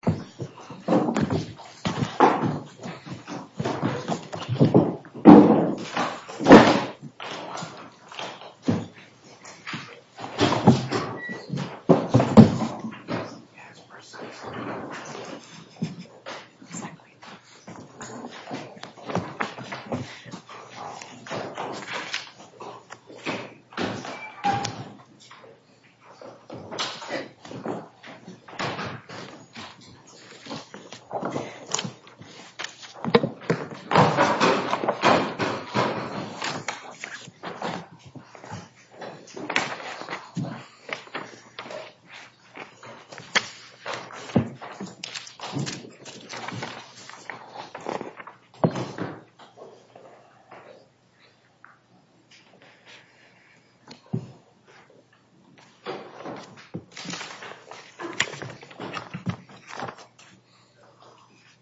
Today we are going to do a separate video because a lot of you asked what my secret Hi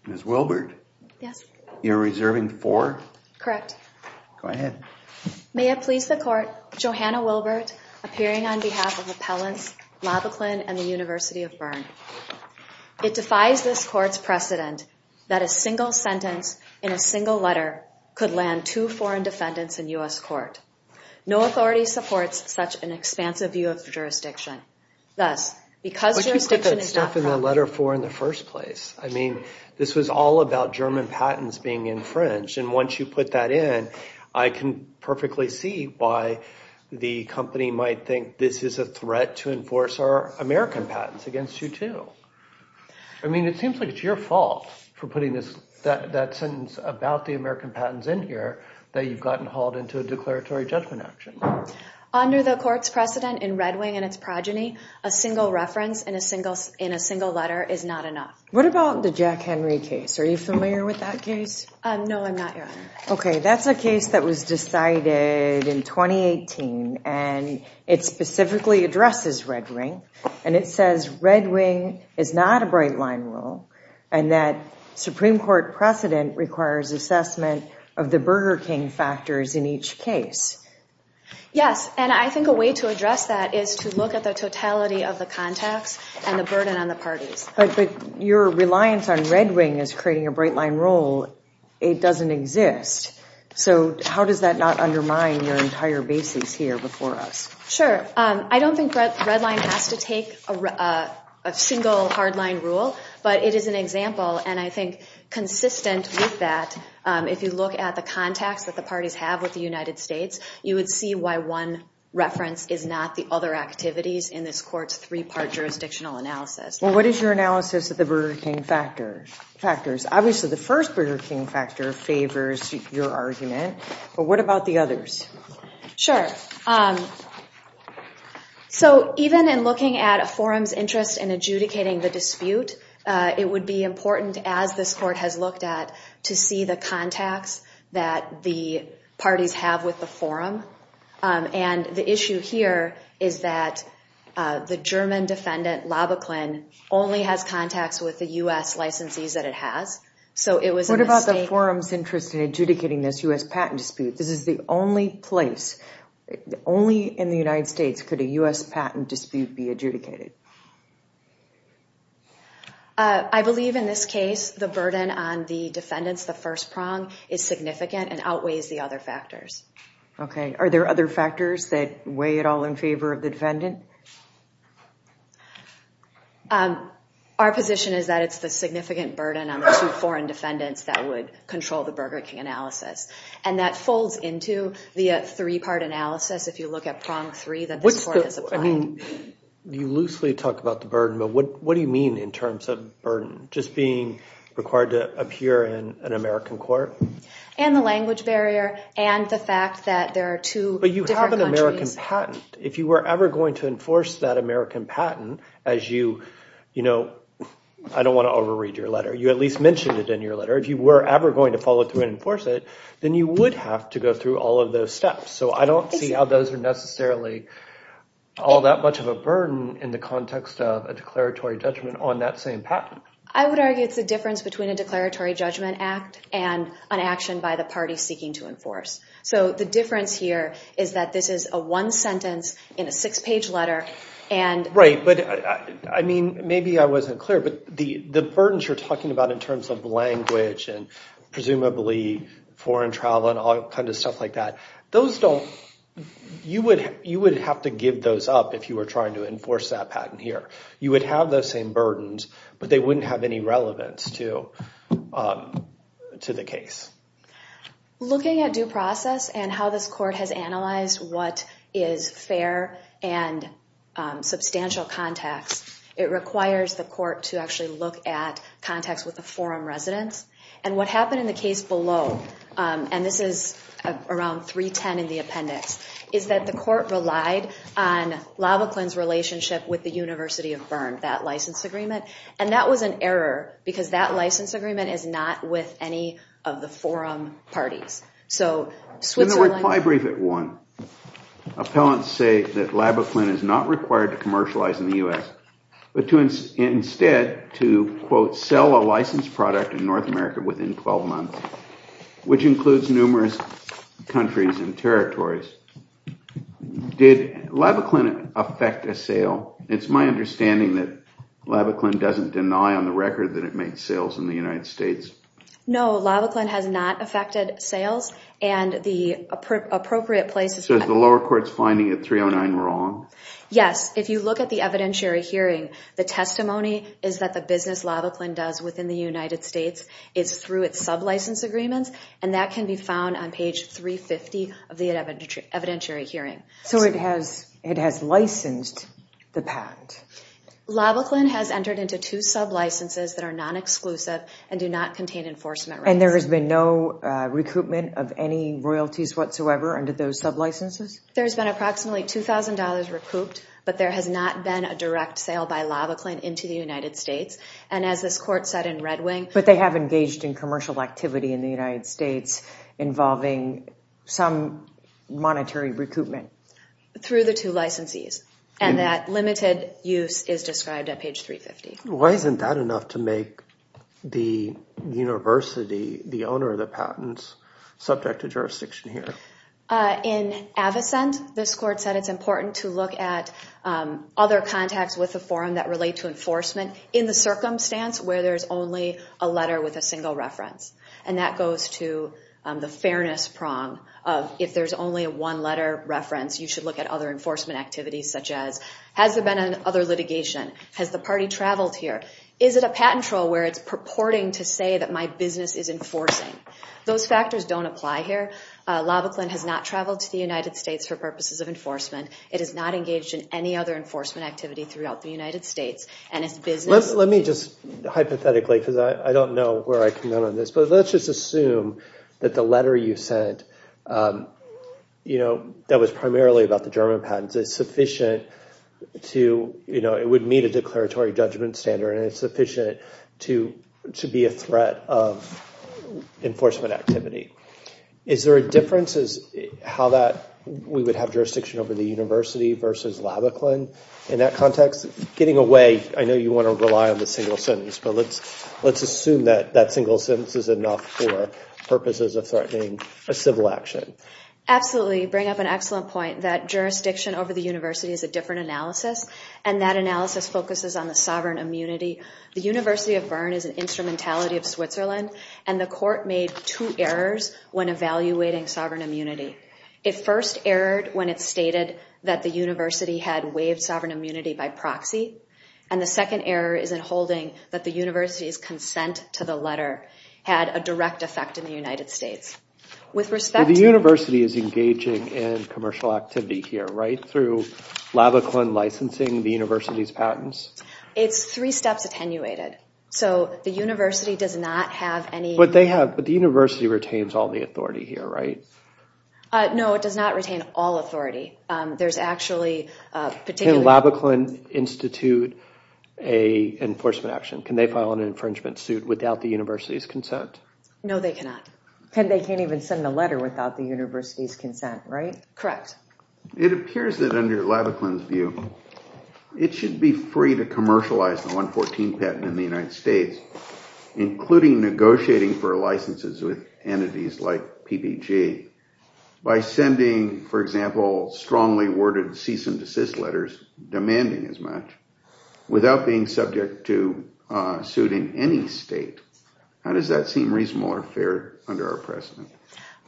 Ms. Wilbert. Yes. You're reserving four? Correct. Go ahead. May it please the court, Johanna Wilbert, appearing on behalf of Appellant LaBaqu Kollegin and the University of Bern. It defies this court's precedent that a single sentence, in a single letter, could land too foreign defendants in U.S. court. No authority supports such an expansive view of jurisdiction. Thus, because jurisdiction is not foreign... But you put that stuff in the letter for in the first place. I mean, this was all about German patents being infringed. And once you put that in, I can perfectly see why the company might think this is a threat to enforce our American patents against you too. I mean, it seems like it's your fault for putting that sentence about the American patents in here that you've gotten hauled into a declaratory judgment action. Under the court's precedent in Red Wing and its progeny, a single reference in a single letter is not enough. What about the Jack Henry case? Are you familiar with that case? No, I'm not, Your Honor. Okay. That's a case that was decided in 2018 and it specifically addresses Red Wing. And it says Red Wing is not a bright line rule and that Supreme Court precedent requires assessment of the Burger King factors in each case. Yes. And I think a way to address that is to look at the totality of the contacts and the burden on the parties. But your reliance on Red Wing as creating a bright line rule, it doesn't exist. So how does that not undermine your entire basis here before us? Sure. I don't think Red Line has to take a single hard line rule, but it is an example. And I think consistent with that, if you look at the contacts that the parties have with the United States, you would see why one reference is not the other activities in this court's three-part jurisdictional analysis. Well, what is your analysis of the Burger King factors? Obviously, the first Burger King factor favors your argument, but what about the others? Sure. So, even in looking at a forum's interest in adjudicating the dispute, it would be important as this court has looked at to see the contacts that the parties have with the forum. And the issue here is that the German defendant, Lobachlin, only has contacts with the U.S. licensees that it has. So it was a mistake. What about the forum's interest in adjudicating this U.S. patent dispute? This is the only place, only in the United States, could a U.S. patent dispute be adjudicated. I believe in this case, the burden on the defendants, the first prong, is significant and outweighs the other factors. Okay. Are there other factors that weigh at all in favor of the defendant? Our position is that it's the significant burden on the two foreign defendants that would control the Burger King analysis. And that folds into the three-part analysis, if you look at prong three, that this court has applied. I mean, you loosely talk about the burden, but what do you mean in terms of burden? Just being required to appear in an American court? And the language barrier, and the fact that there are two different countries. But you have an American patent. If you were ever going to enforce that American patent as you, you know, I don't want to overread your letter. You at least mentioned it in your letter. If you were ever going to follow through and enforce it, then you would have to go through all of those steps. So I don't see how those are necessarily all that much of a burden in the context of a declaratory judgment on that same patent. I would argue it's the difference between a declaratory judgment act and an action by the party seeking to enforce. So the difference here is that this is a one-sentence in a six-page letter, and— Right, but I mean, maybe I wasn't clear, but the burdens you're talking about in terms of language and presumably foreign travel and all kinds of stuff like that, those don't— you would have to give those up if you were trying to enforce that patent here. You would have those same burdens, but they wouldn't have any relevance to the case. Looking at due process and how this court has analyzed what is fair and substantial context, it requires the court to actually look at context with the forum residents. And what happened in the case below, and this is around 310 in the appendix, is that the court relied on Labaquinn's relationship with the University of Bern, that license agreement. And that was an error because that license agreement is not with any of the forum parties. So Switzerland— But instead, to, quote, sell a licensed product in North America within 12 months, which includes numerous countries and territories. Did Labaquinn affect a sale? It's my understanding that Labaquinn doesn't deny on the record that it made sales in the United States. No, Labaquinn has not affected sales, and the appropriate places— So is the lower court's finding of 309 wrong? Yes. If you look at the evidentiary hearing, the testimony is that the business Labaquinn does within the United States is through its sub-license agreements, and that can be found on page 350 of the evidentiary hearing. So it has licensed the patent? Labaquinn has entered into two sub-licenses that are non-exclusive and do not contain enforcement rights. And there has been no recruitment of any royalties whatsoever under those sub-licenses? There's been approximately $2,000 recouped, but there has not been a direct sale by Labaquinn into the United States. And as this court said in Red Wing— But they have engaged in commercial activity in the United States involving some monetary recoupment? Through the two licensees, and that limited use is described at page 350. Why isn't that enough to make the university, the owner of the patents, subject to jurisdiction here? In Avocent, this court said it's important to look at other contacts with the forum that relate to enforcement in the circumstance where there's only a letter with a single reference. And that goes to the fairness prong of if there's only a one-letter reference, you should look at other enforcement activities such as, has there been other litigation? Has the party traveled here? Is it a patent trial where it's purporting to say that my business is enforcing? Those factors don't apply here. Labaquinn has not traveled to the United States for purposes of enforcement. It has not engaged in any other enforcement activity throughout the United States. And its business— Let me just, hypothetically, because I don't know where I can go on this, but let's just assume that the letter you sent, you know, that was primarily about the German patents, is sufficient to, you know, it would meet a declaratory judgment standard, and it's sufficient to be a threat of enforcement activity. Is there a difference as how that we would have jurisdiction over the university versus Labaquinn in that context? Getting away, I know you want to rely on the single sentence, but let's assume that that single sentence is enough for purposes of threatening a civil action. Absolutely. You bring up an excellent point that jurisdiction over the university is a different analysis, and that analysis focuses on the sovereign immunity. The University of Bern is an instrumentality of Switzerland, and the court made two errors when evaluating sovereign immunity. It first erred when it stated that the university had waived sovereign immunity by proxy, and the second error is in holding that the university's consent to the letter had a direct effect in the United States. With respect to— But the university is engaging in commercial activity here, right, through Labaquinn licensing the university's patents? It's three steps attenuated. So the university does not have any— But they have—but the university retains all the authority here, right? No, it does not retain all authority. There's actually a particular— Can Labaquinn institute an enforcement action? Can they file an infringement suit without the university's consent? No, they cannot. And they can't even send a letter without the university's consent, right? Correct. It appears that under Labaquinn's view, it should be free to commercialize the 114 patent in the United States, including negotiating for licenses with entities like PBG, by sending, for example, strongly worded cease and desist letters, demanding as much, without being subject to a suit in any state. How does that seem reasonable or fair under our precedent?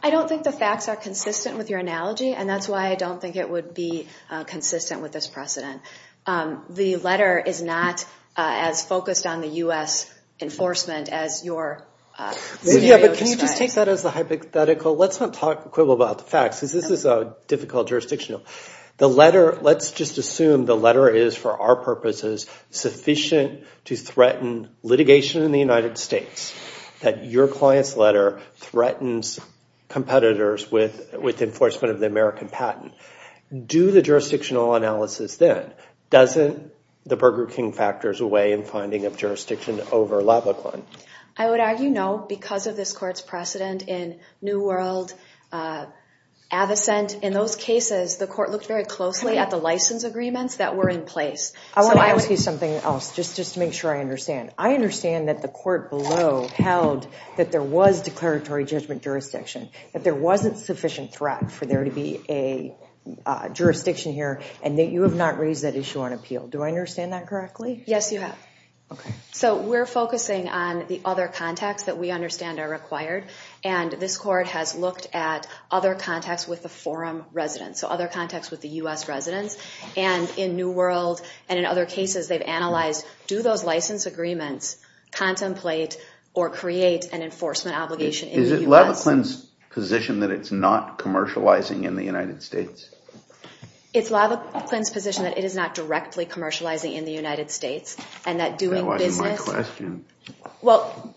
I don't think the facts are consistent with your analogy, and that's why I don't think it would be consistent with this precedent. The letter is not as focused on the U.S. enforcement as your scenario describes. Yeah, but can you just take that as the hypothetical? Let's not talk quibble about the facts, because this is a difficult jurisdiction. The letter—let's just assume the letter is, for our purposes, sufficient to threaten litigation in the United States, that your client's letter threatens competitors with enforcement of the American patent. Do the jurisdictional analysis then. Doesn't the Burger King factors away in finding of jurisdiction over Labaquinn? I would argue no, because of this court's precedent in New World, Avocent. In those cases, the court looked very closely at the license agreements that were in place. I want to ask you something else, just to make sure I understand. I understand that the court below held that there was declaratory judgment jurisdiction, that there wasn't sufficient threat for there to be a jurisdiction here, and that you have not raised that issue on appeal. Do I understand that correctly? Yes, you have. Okay. So we're focusing on the other contacts that we understand are required, and this court has looked at other contacts with the forum residents, so other contacts with the U.S. residents. In New World and in other cases, they've analyzed, do those license agreements contemplate or create an enforcement obligation in the U.S.? Is it Labaquinn's position that it's not commercializing in the United States? It's Labaquinn's position that it is not directly commercializing in the United States, and that doing business... You're asking my question. Well,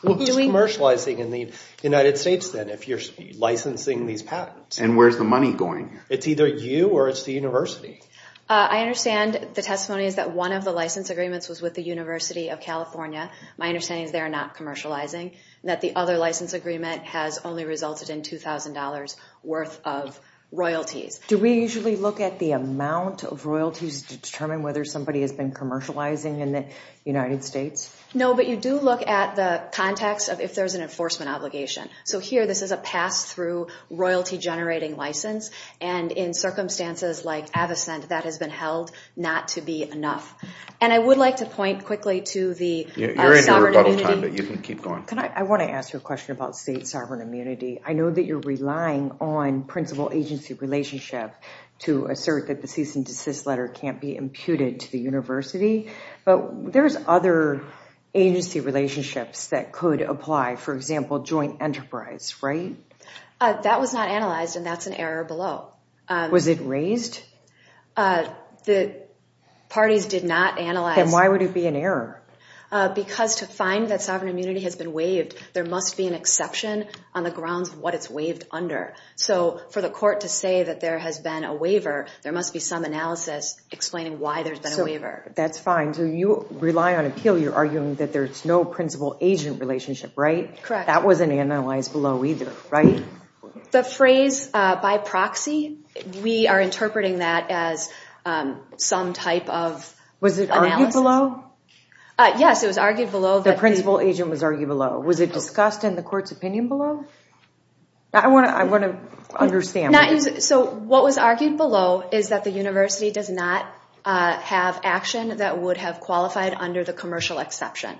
who's commercializing in the United States then, if you're licensing these patents? And where's the money going? It's either you or it's the university. I understand the testimony is that one of the license agreements was with the University of California. My understanding is they're not commercializing, and that the other license agreement has only resulted in $2,000 worth of royalties. Do we usually look at the amount of royalties to determine whether somebody has been commercializing in the United States? No, but you do look at the context of if there's an enforcement obligation. So here, this is a pass-through royalty-generating license, and in circumstances like Avocent, that has been held not to be enough. And I would like to point quickly to the sovereign immunity... You're in the rebuttal time, but you can keep going. I want to ask you a question about state sovereign immunity. I know that you're relying on principal agency relationship to assert that the cease and desist letter can't be imputed to the university, but there's other agency relationships that could apply. For example, joint enterprise, right? That was not analyzed, and that's an error below. Was it raised? The parties did not analyze... Then why would it be an error? Because to find that sovereign immunity has been waived, there must be an exception on the grounds of what it's waived under. So for the court to say that there has been a waiver, there must be some analysis explaining why there's been a waiver. That's fine. You rely on appeal, you're arguing that there's no principal agent relationship, right? That wasn't analyzed below either, right? The phrase by proxy, we are interpreting that as some type of analysis. Was it argued below? Yes, it was argued below. The principal agent was argued below. Was it discussed in the court's opinion below? I want to understand. So what was argued below is that the university does not have action that would have qualified under the commercial exception,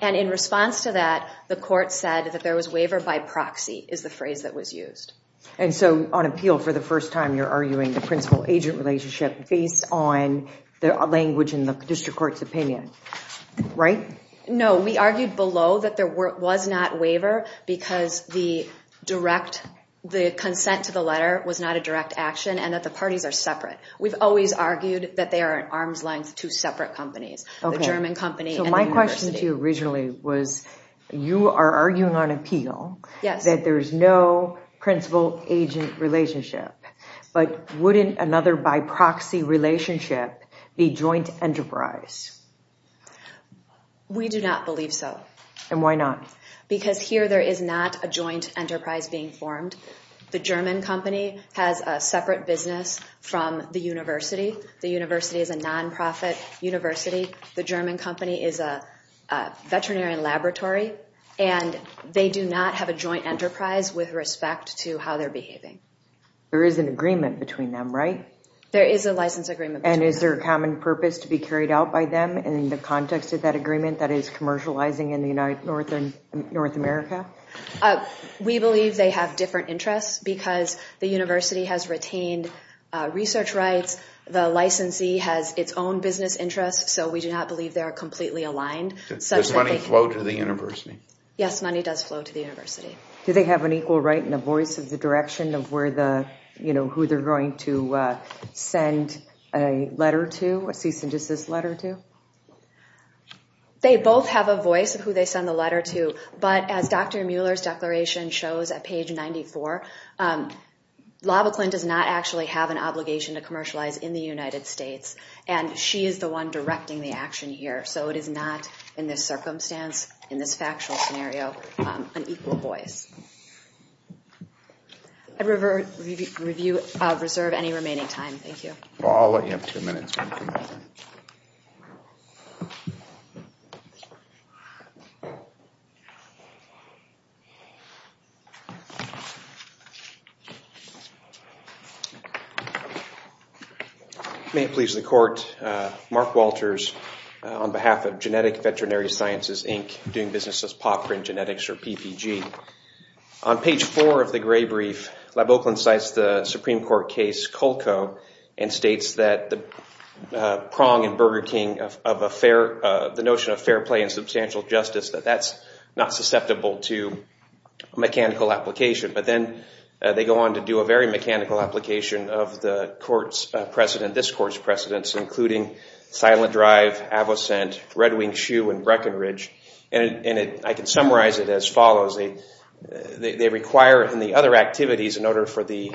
and in response to that, the court said that there was waiver by proxy, is the phrase that was used. And so on appeal, for the first time, you're arguing the principal agent relationship based on the language in the district court's opinion, right? No, we argued below that there was not waiver because the direct, the consent to the letter was not a direct action and that the parties are separate. We've always argued that they are at arm's length two separate companies, the German company and the university. So my question to you originally was, you are arguing on appeal that there's no principal agent relationship, but wouldn't another by proxy relationship be joint enterprise? We do not believe so. And why not? Because here there is not a joint enterprise being formed. The German company has a separate business from the university. The university is a non-profit university. The German company is a veterinary laboratory, and they do not have a joint enterprise with respect to how they're behaving. There is an agreement between them, right? There is a license agreement. And is there a common purpose to be carried out by them in the context of that agreement that is commercializing in North America? We believe they have different interests because the university has retained research rights. The licensee has its own business interests, so we do not believe they are completely aligned. Does money flow to the university? Yes, money does flow to the university. Do they have an equal right and a voice of the direction of where the, you know, who they're going to send a letter to, a cease and desist letter to? They both have a voice of who they send the letter to, but as Dr. Mueller's declaration shows at page 94, Lava Klint does not actually have an obligation to commercialize in the United States, and she is the one directing the action here. So it is not, in this circumstance, in this factual scenario, an equal voice. I'd reserve any remaining time. Thank you. Well, I'll let you have two minutes. May it please the Court, Mark Walters on behalf of Genetic Veterinary Sciences, Inc., doing business as Pop Print Genetics, or PPG. On page four of the gray brief, Lava Klint cites the Supreme Court case Colco and states that the prong in Burger King of a fair, the notion of fair play and substantial justice, that that's not susceptible to mechanical application, but then they go on to do a very mechanical application of the court's precedent, this court's precedents, including Silent Drive, Avocent, Red Wing Shoe, and Breckenridge, and I can summarize it as follows. They require in the other activities, in order for the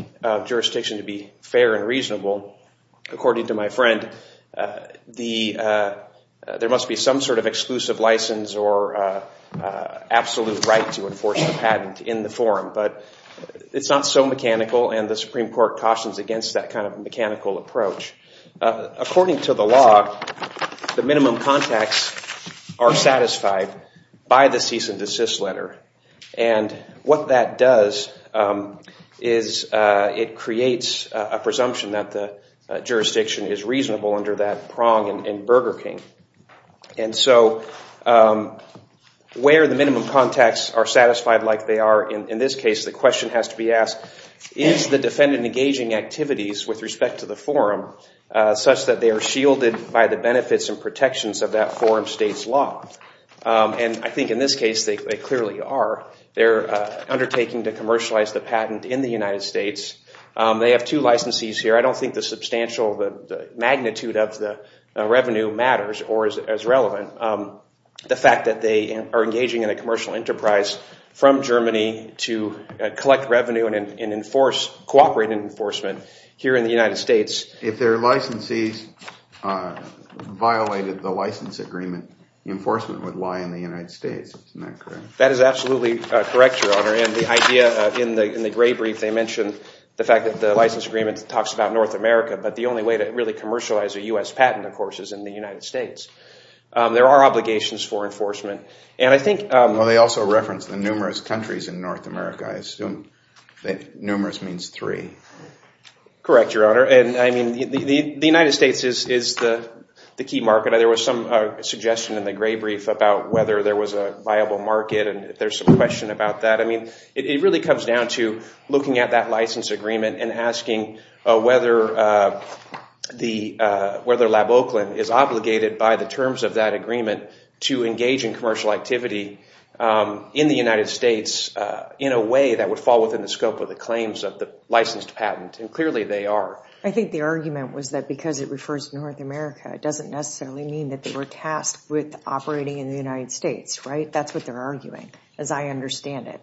jurisdiction to be fair and reasonable, according to my friend, there must be some sort of exclusive license or absolute right to enforce the patent in the forum, but it's not so mechanical, and the Supreme Court cautions against that kind of mechanical approach. According to the law, the minimum contacts are satisfied by the cease and desist letter, and what that does is it creates a presumption that the jurisdiction is reasonable under that prong in Burger King, and so where the minimum contacts are satisfied like they are in this case, the question has to be asked, is the defendant engaging activities with respect to the forum such that they are shielded by the benefits and protections of that forum state's law, and I think in this case they clearly are. They're undertaking to commercialize the patent in the United States. They have two licensees here. I don't think the substantial magnitude of the revenue matters or is relevant. The fact that they are engaging in a commercial enterprise from Germany to collect revenue and enforce, cooperate in enforcement here in the United States. If their licensees violated the license agreement, enforcement would lie in the United States. That is absolutely correct, Your Honor, and the idea in the gray brief, they mentioned the fact that the license agreement talks about North America, but the only way to really commercialize a U.S. patent, of course, is in the United States. There are obligations for enforcement, and I think... The difference in numerous countries in North America, numerous means three. Correct, Your Honor, and I mean, the United States is the key market. There was some suggestion in the gray brief about whether there was a viable market, and there's some question about that. I mean, it really comes down to looking at that license agreement and asking whether LabOakland is obligated by the terms of that agreement to engage in commercial activity in the United States in a way that would fall within the scope of the claims of the licensed patent, and clearly they are. I think the argument was that because it refers to North America, it doesn't necessarily mean that they were tasked with operating in the United States, right? That's what they're arguing, as I understand it,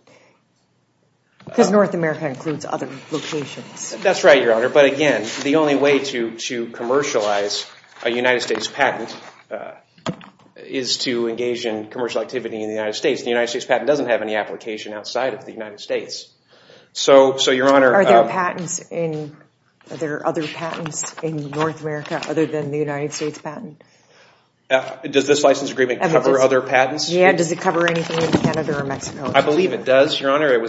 because North America includes other locations. That's right, Your Honor, but again, the only way to commercialize a United States patent is to engage in commercial activity in the United States. The United States patent doesn't have any application outside of the United States. So Your Honor... Are there patents in... Are there other patents in North America other than the United States patent? Does this license agreement cover other patents? Yeah, does it cover anything in Canada or Mexico? I believe it does, Your Honor. It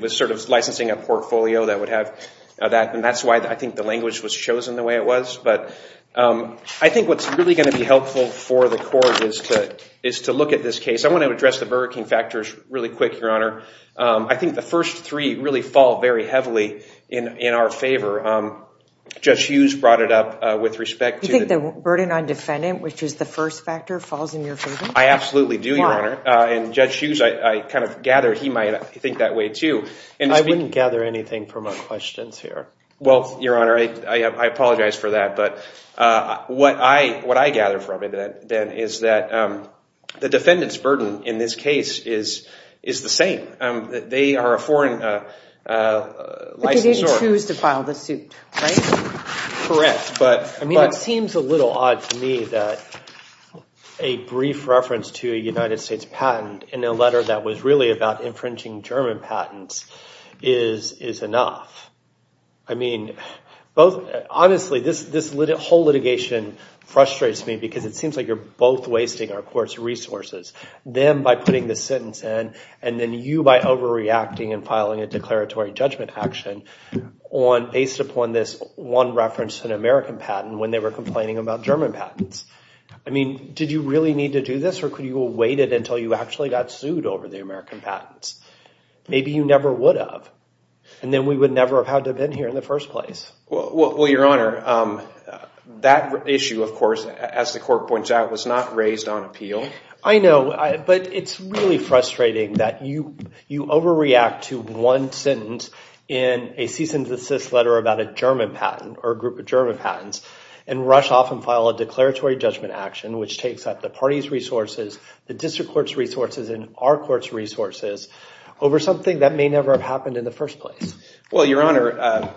was sort of licensing a portfolio that would have that, and that's why I think the language was chosen the way it was. But I think what's really going to be helpful for the court is to look at this case. I want to address the burgeoning factors really quick, Your Honor. I think the first three really fall very heavily in our favor. Judge Hughes brought it up with respect to... You think the burden on defendant, which is the first factor, falls in your favor? I absolutely do, Your Honor. And Judge Hughes, I kind of gather he might think that way too. I wouldn't gather anything from our questions here. Well, Your Honor, I apologize for that. But what I gather from it, then, is that the defendant's burden in this case is the same. They are a foreign licensor. But they didn't choose to file the suit, right? Correct. I mean, it seems a little odd to me that a brief reference to a United States patent in a letter that was really about infringing German patents is enough. I mean, honestly, this whole litigation frustrates me because it seems like you're both wasting our court's resources. Them by putting the sentence in, and then you by overreacting and filing a declaratory judgment action based upon this one reference to an American patent when they were complaining about German patents. I mean, did you really need to do this, or could you have waited until you actually got sued over the American patents? Maybe you never would have. And then we would never have had to have been here in the first place. Well, Your Honor, that issue, of course, as the court points out, was not raised on appeal. I know. But it's really frustrating that you overreact to one sentence in a cease and desist letter about a German patent, or a group of German patents, and rush off and file a declaratory judgment action, which takes up the party's resources, the district court's resources, and our court's resources over something that may never have happened in the first place. Well, Your Honor,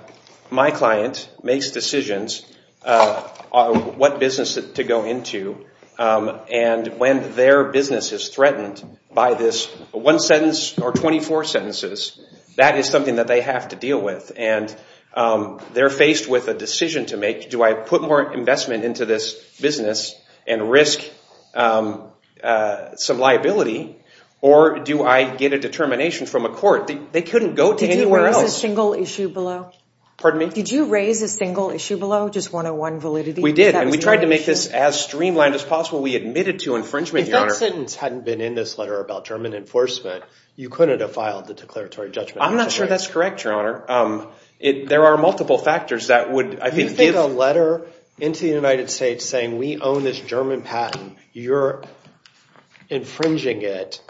my client makes decisions on what business to go into. And when their business is threatened by this one sentence or 24 sentences, that is something that they have to deal with. And they're faced with a decision to make. Do I put more investment into this business and risk some liability, or do I get a determination from a court? They couldn't go to anywhere else. Did you raise a single issue below? Pardon me? Did you raise a single issue below, just 101 validity? We did. We tried to make this as streamlined as possible. We admitted to infringement, Your Honor. If that sentence hadn't been in this letter about German enforcement, you couldn't have filed the declaratory judgment. I'm not sure that's correct, Your Honor. There are multiple factors that would, I think, give— You think a letter into the United States saying, we own this German patent, you're infringing it,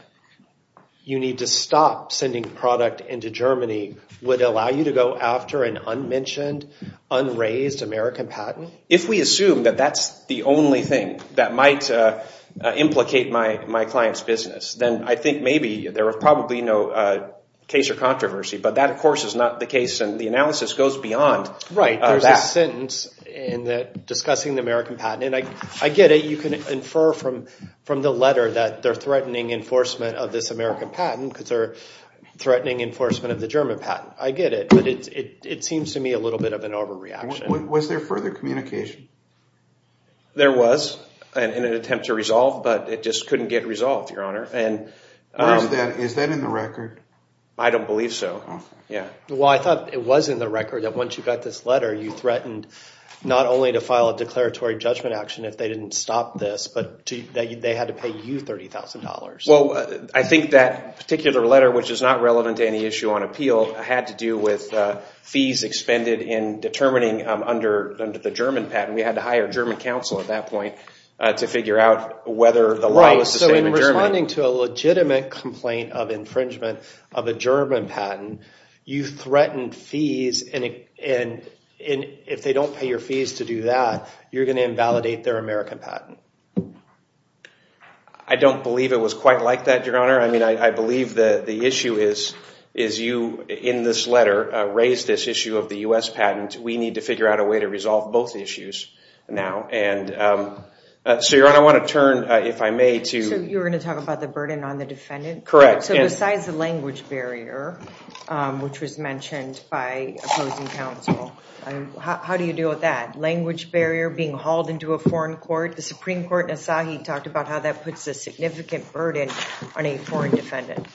you need to stop sending product into Germany, would allow you to go after an unmentioned, unraised American patent? If we assume that that's the only thing that might implicate my client's business, then I think maybe there are probably no case or controversy. But that, of course, is not the case, and the analysis goes beyond that. Right. There's a sentence in that discussing the American patent, and I get it. You can infer from the letter that they're threatening enforcement of this American patent because they're threatening enforcement of the German patent. I get it. But it seems to me a little bit of an overreaction. Was there further communication? There was, in an attempt to resolve, but it just couldn't get resolved, Your Honor. Is that in the record? I don't believe so. Okay. Yeah. Well, I thought it was in the record that once you got this letter, you threatened not only to file a declaratory judgment action if they didn't stop this, but that they had to pay you $30,000. Well, I think that particular letter, which is not relevant to any issue on appeal, had to do with fees expended in determining under the German patent. We had to hire German counsel at that point to figure out whether the law was the same in German. Right. So in responding to a legitimate complaint of infringement of a German patent, you threatened fees, and if they don't pay your fees to do that, you're going to invalidate their American patent. I don't believe it was quite like that, Your Honor. I mean, I believe the issue is you, in this letter, raised this issue of the U.S. patent. We need to figure out a way to resolve both issues now, and so, Your Honor, I want to turn, if I may, to— So you were going to talk about the burden on the defendant? Correct. So besides the language barrier, which was mentioned by opposing counsel, how do you deal with that? Language barrier, being hauled into a foreign court? The Supreme Court in Asahi talked about how that puts a significant burden on a foreign defendant.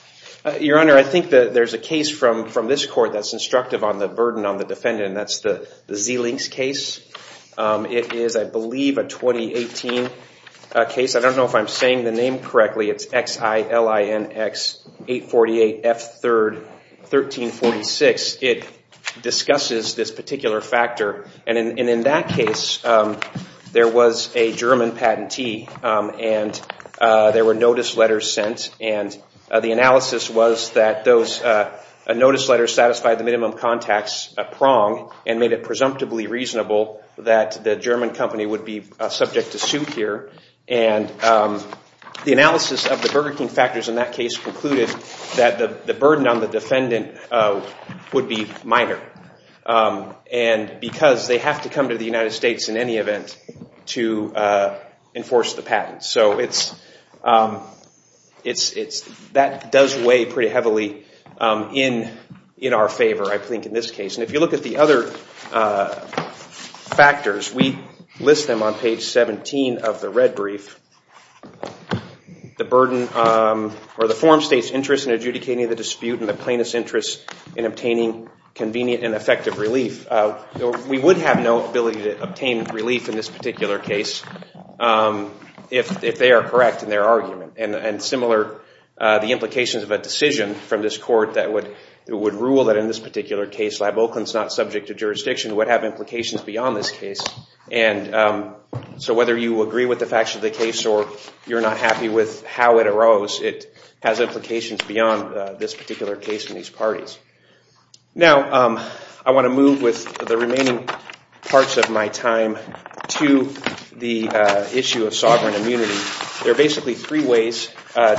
Your Honor, I think that there's a case from this court that's instructive on the burden on the defendant, and that's the Zilinks case. It is, I believe, a 2018 case. I don't know if I'm saying the name correctly. It's X-I-L-I-N-X-848-F-3rd-1346. It discusses this particular factor, and in that case, there was a German patentee, and there were notice letters sent, and the analysis was that those notice letters satisfied the minimum contacts prong and made it presumptively reasonable that the German company would be subject to suit here, and the analysis of the Burger King factors in that case concluded that the burden on the defendant would be minor because they have to come to the United States in any event to enforce the patent. So that does weigh pretty heavily in our favor, I think, in this case. And if you look at the other factors, we list them on page 17 of the red brief. The form states interest in adjudicating the dispute and the plaintiff's interest in obtaining convenient and effective relief. We would have no ability to obtain relief in this particular case if they are correct in their argument, and similar the implications of a decision from this court that would rule that in this particular case, LabOakland's not subject to jurisdiction would have implications beyond this case. And so whether you agree with the facts of the case or you're not happy with how it arose, it has implications beyond this particular case and these parties. Now, I want to move with the remaining parts of my time to the issue of sovereign immunity. There are basically three ways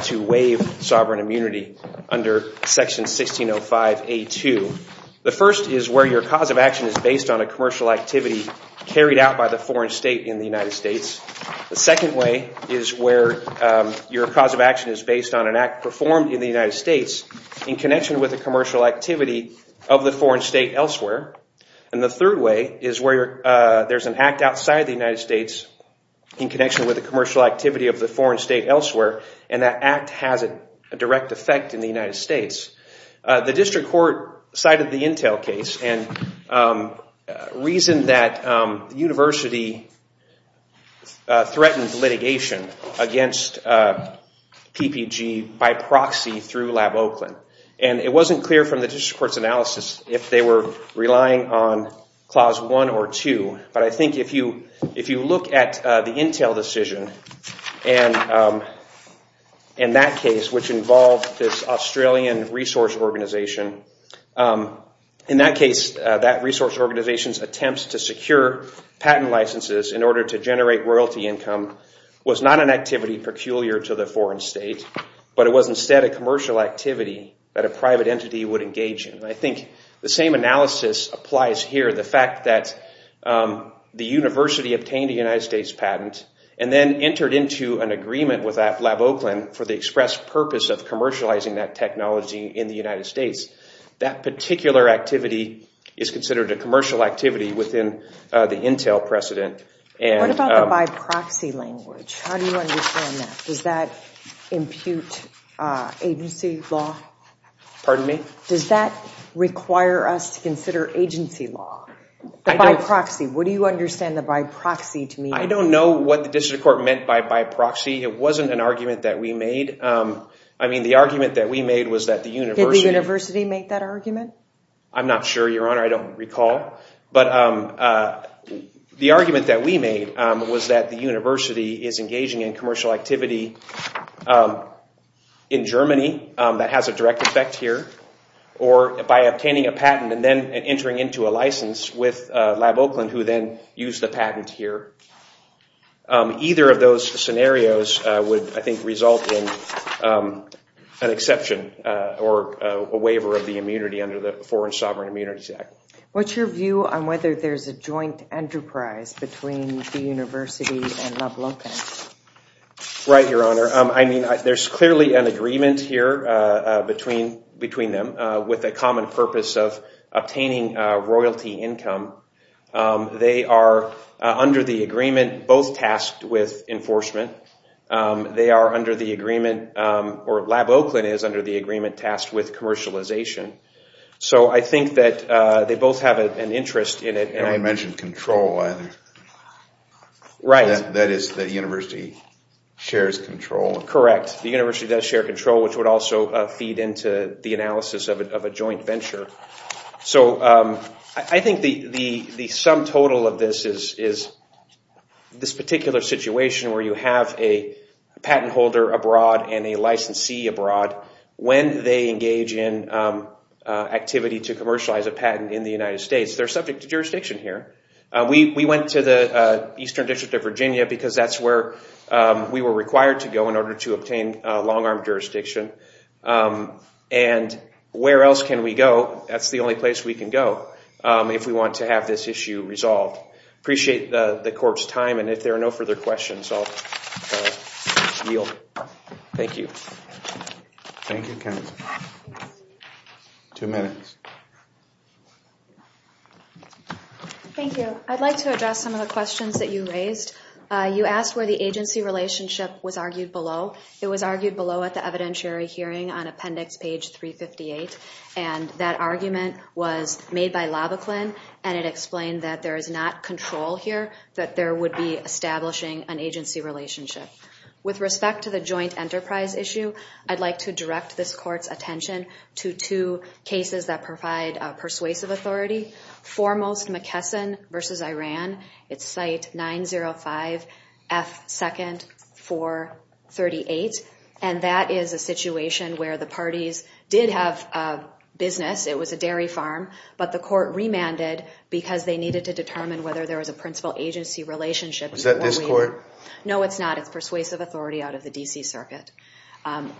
to waive sovereign immunity under section 1605A2. The first is where your cause of action is based on a commercial activity carried out by the foreign state in the United States. The second way is where you're cause of action is based on an act performed in the United States in connection with a commercial activity of the foreign state elsewhere. And the third way is where there's an act outside the United States in connection with a commercial activity of the foreign state elsewhere, and that act has a direct effect in the United States. The district court cited the Intel case and reasoned that the university threatened litigation against PPG by proxy through LabOakland. And it wasn't clear from the district court's analysis if they were relying on Clause 1 or 2. But I think if you look at the Intel decision and that case, which involved this Australian resource organization, in that case, that resource organization's attempts to secure patent licenses in order to generate royalty income was not an activity peculiar to the foreign state, but it was instead a commercial activity that a private entity would engage in. And I think the same analysis applies here. The fact that the university obtained a United States patent and then entered into an agreement with LabOakland for the express purpose of commercializing that technology in the United States, that particular activity is considered a commercial activity within the Intel precedent. What about the by proxy language? How do you understand that? Does that impute agency law? Pardon me? Does that require us to consider agency law? By proxy. What do you understand the by proxy to mean? I don't know what the district court meant by by proxy. It wasn't an argument that we made. I mean, the argument that we made was that the university... Did the university make that argument? I'm not sure, Your Honor. I don't recall. But the argument that we made was that the university is engaging in commercial activity in Germany that has a direct effect here, or by obtaining a patent and then entering into a license with LabOakland, who then used the patent here. Either of those scenarios would, I think, result in an exception or a waiver of the immunity under the Foreign Sovereign Immunities Act. What's your view on whether there's a joint enterprise between the university and LabOakland? Right, Your Honor. I mean, there's clearly an agreement here between them with a common purpose of obtaining royalty income. They are, under the agreement, both tasked with enforcement. They are under the agreement, or LabOakland is under the agreement, tasked with commercialization. So I think that they both have an interest in it. You haven't mentioned control, either. Right. That is, the university shares control. Correct. The university does share control, which would also feed into the analysis of a joint venture. So I think the sum total of this is this particular situation where you have a patent holder abroad and a licensee abroad. When they engage in activity to commercialize a patent in the United States, they're subject to jurisdiction here. We went to the Eastern District of Virginia because that's where we were required to go in order to obtain long-arm jurisdiction. And where else can we go? That's the only place we can go if we want to have this issue resolved. Appreciate the court's time. And if there are no further questions, I'll yield. Thank you. Thank you, counsel. Two minutes. Thank you. I'd like to address some of the questions that you raised. You asked where the agency relationship was argued below. It was argued below at the evidentiary hearing on Appendix page 358. And that argument was made by Lavaklin, and it explained that there is not control here, that there would be establishing an agency relationship. With respect to the joint enterprise issue, I'd like to direct this court's attention to two cases that provide persuasive authority. Foremost, McKesson v. Iran. It's Site 905F2nd 438. And that is a situation where the parties did have business. It was a dairy farm. But the court remanded because they needed to determine whether there was a principal agency relationship. Was that this court? No, it's not. It's persuasive authority out of the D.C. Circuit.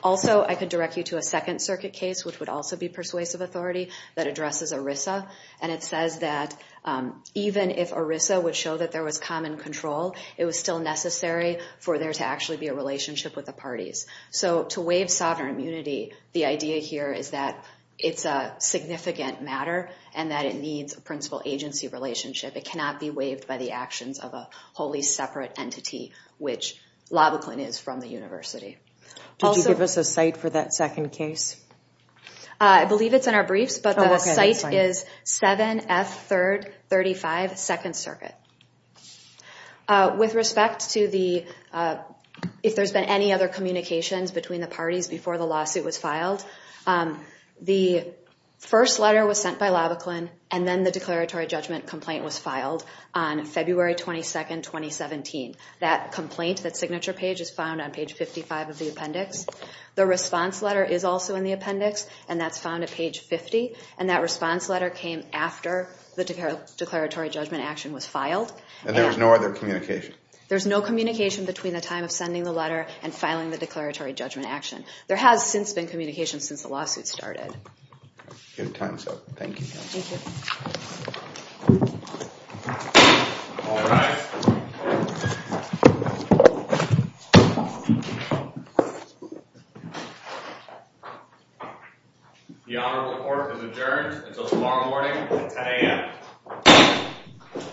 Also, I could direct you to a Second Circuit case, which would also be persuasive authority, that addresses ERISA. And it says that even if ERISA would show that there was common control, it was still necessary for there to actually be a relationship with the parties. So to waive sovereign immunity, the idea here is that it's a significant matter, and that it needs a principal agency relationship. It cannot be waived by the actions of a wholly separate entity, which Lavaklin is from the university. Did you give us a site for that second case? I believe it's in our briefs, but the site is 7F3rd 35 2nd Circuit. With respect to if there's been any other communications between the parties before the lawsuit was filed, the first letter was sent by Lavaklin, and then the declaratory judgment complaint was filed on February 22, 2017. That complaint, that signature page, is found on page 55 of the appendix. The response letter is also in the appendix, and that's found at page 50. And that response letter came after the declaratory judgment action was filed. And there was no other communication? There's no communication between the time of sending the letter and filing the declaratory judgment action. There has since been communication since the lawsuit started. Good times, though. Thank you. Thank you. All rise. The honorable court is adjourned until tomorrow morning at 10 a.m.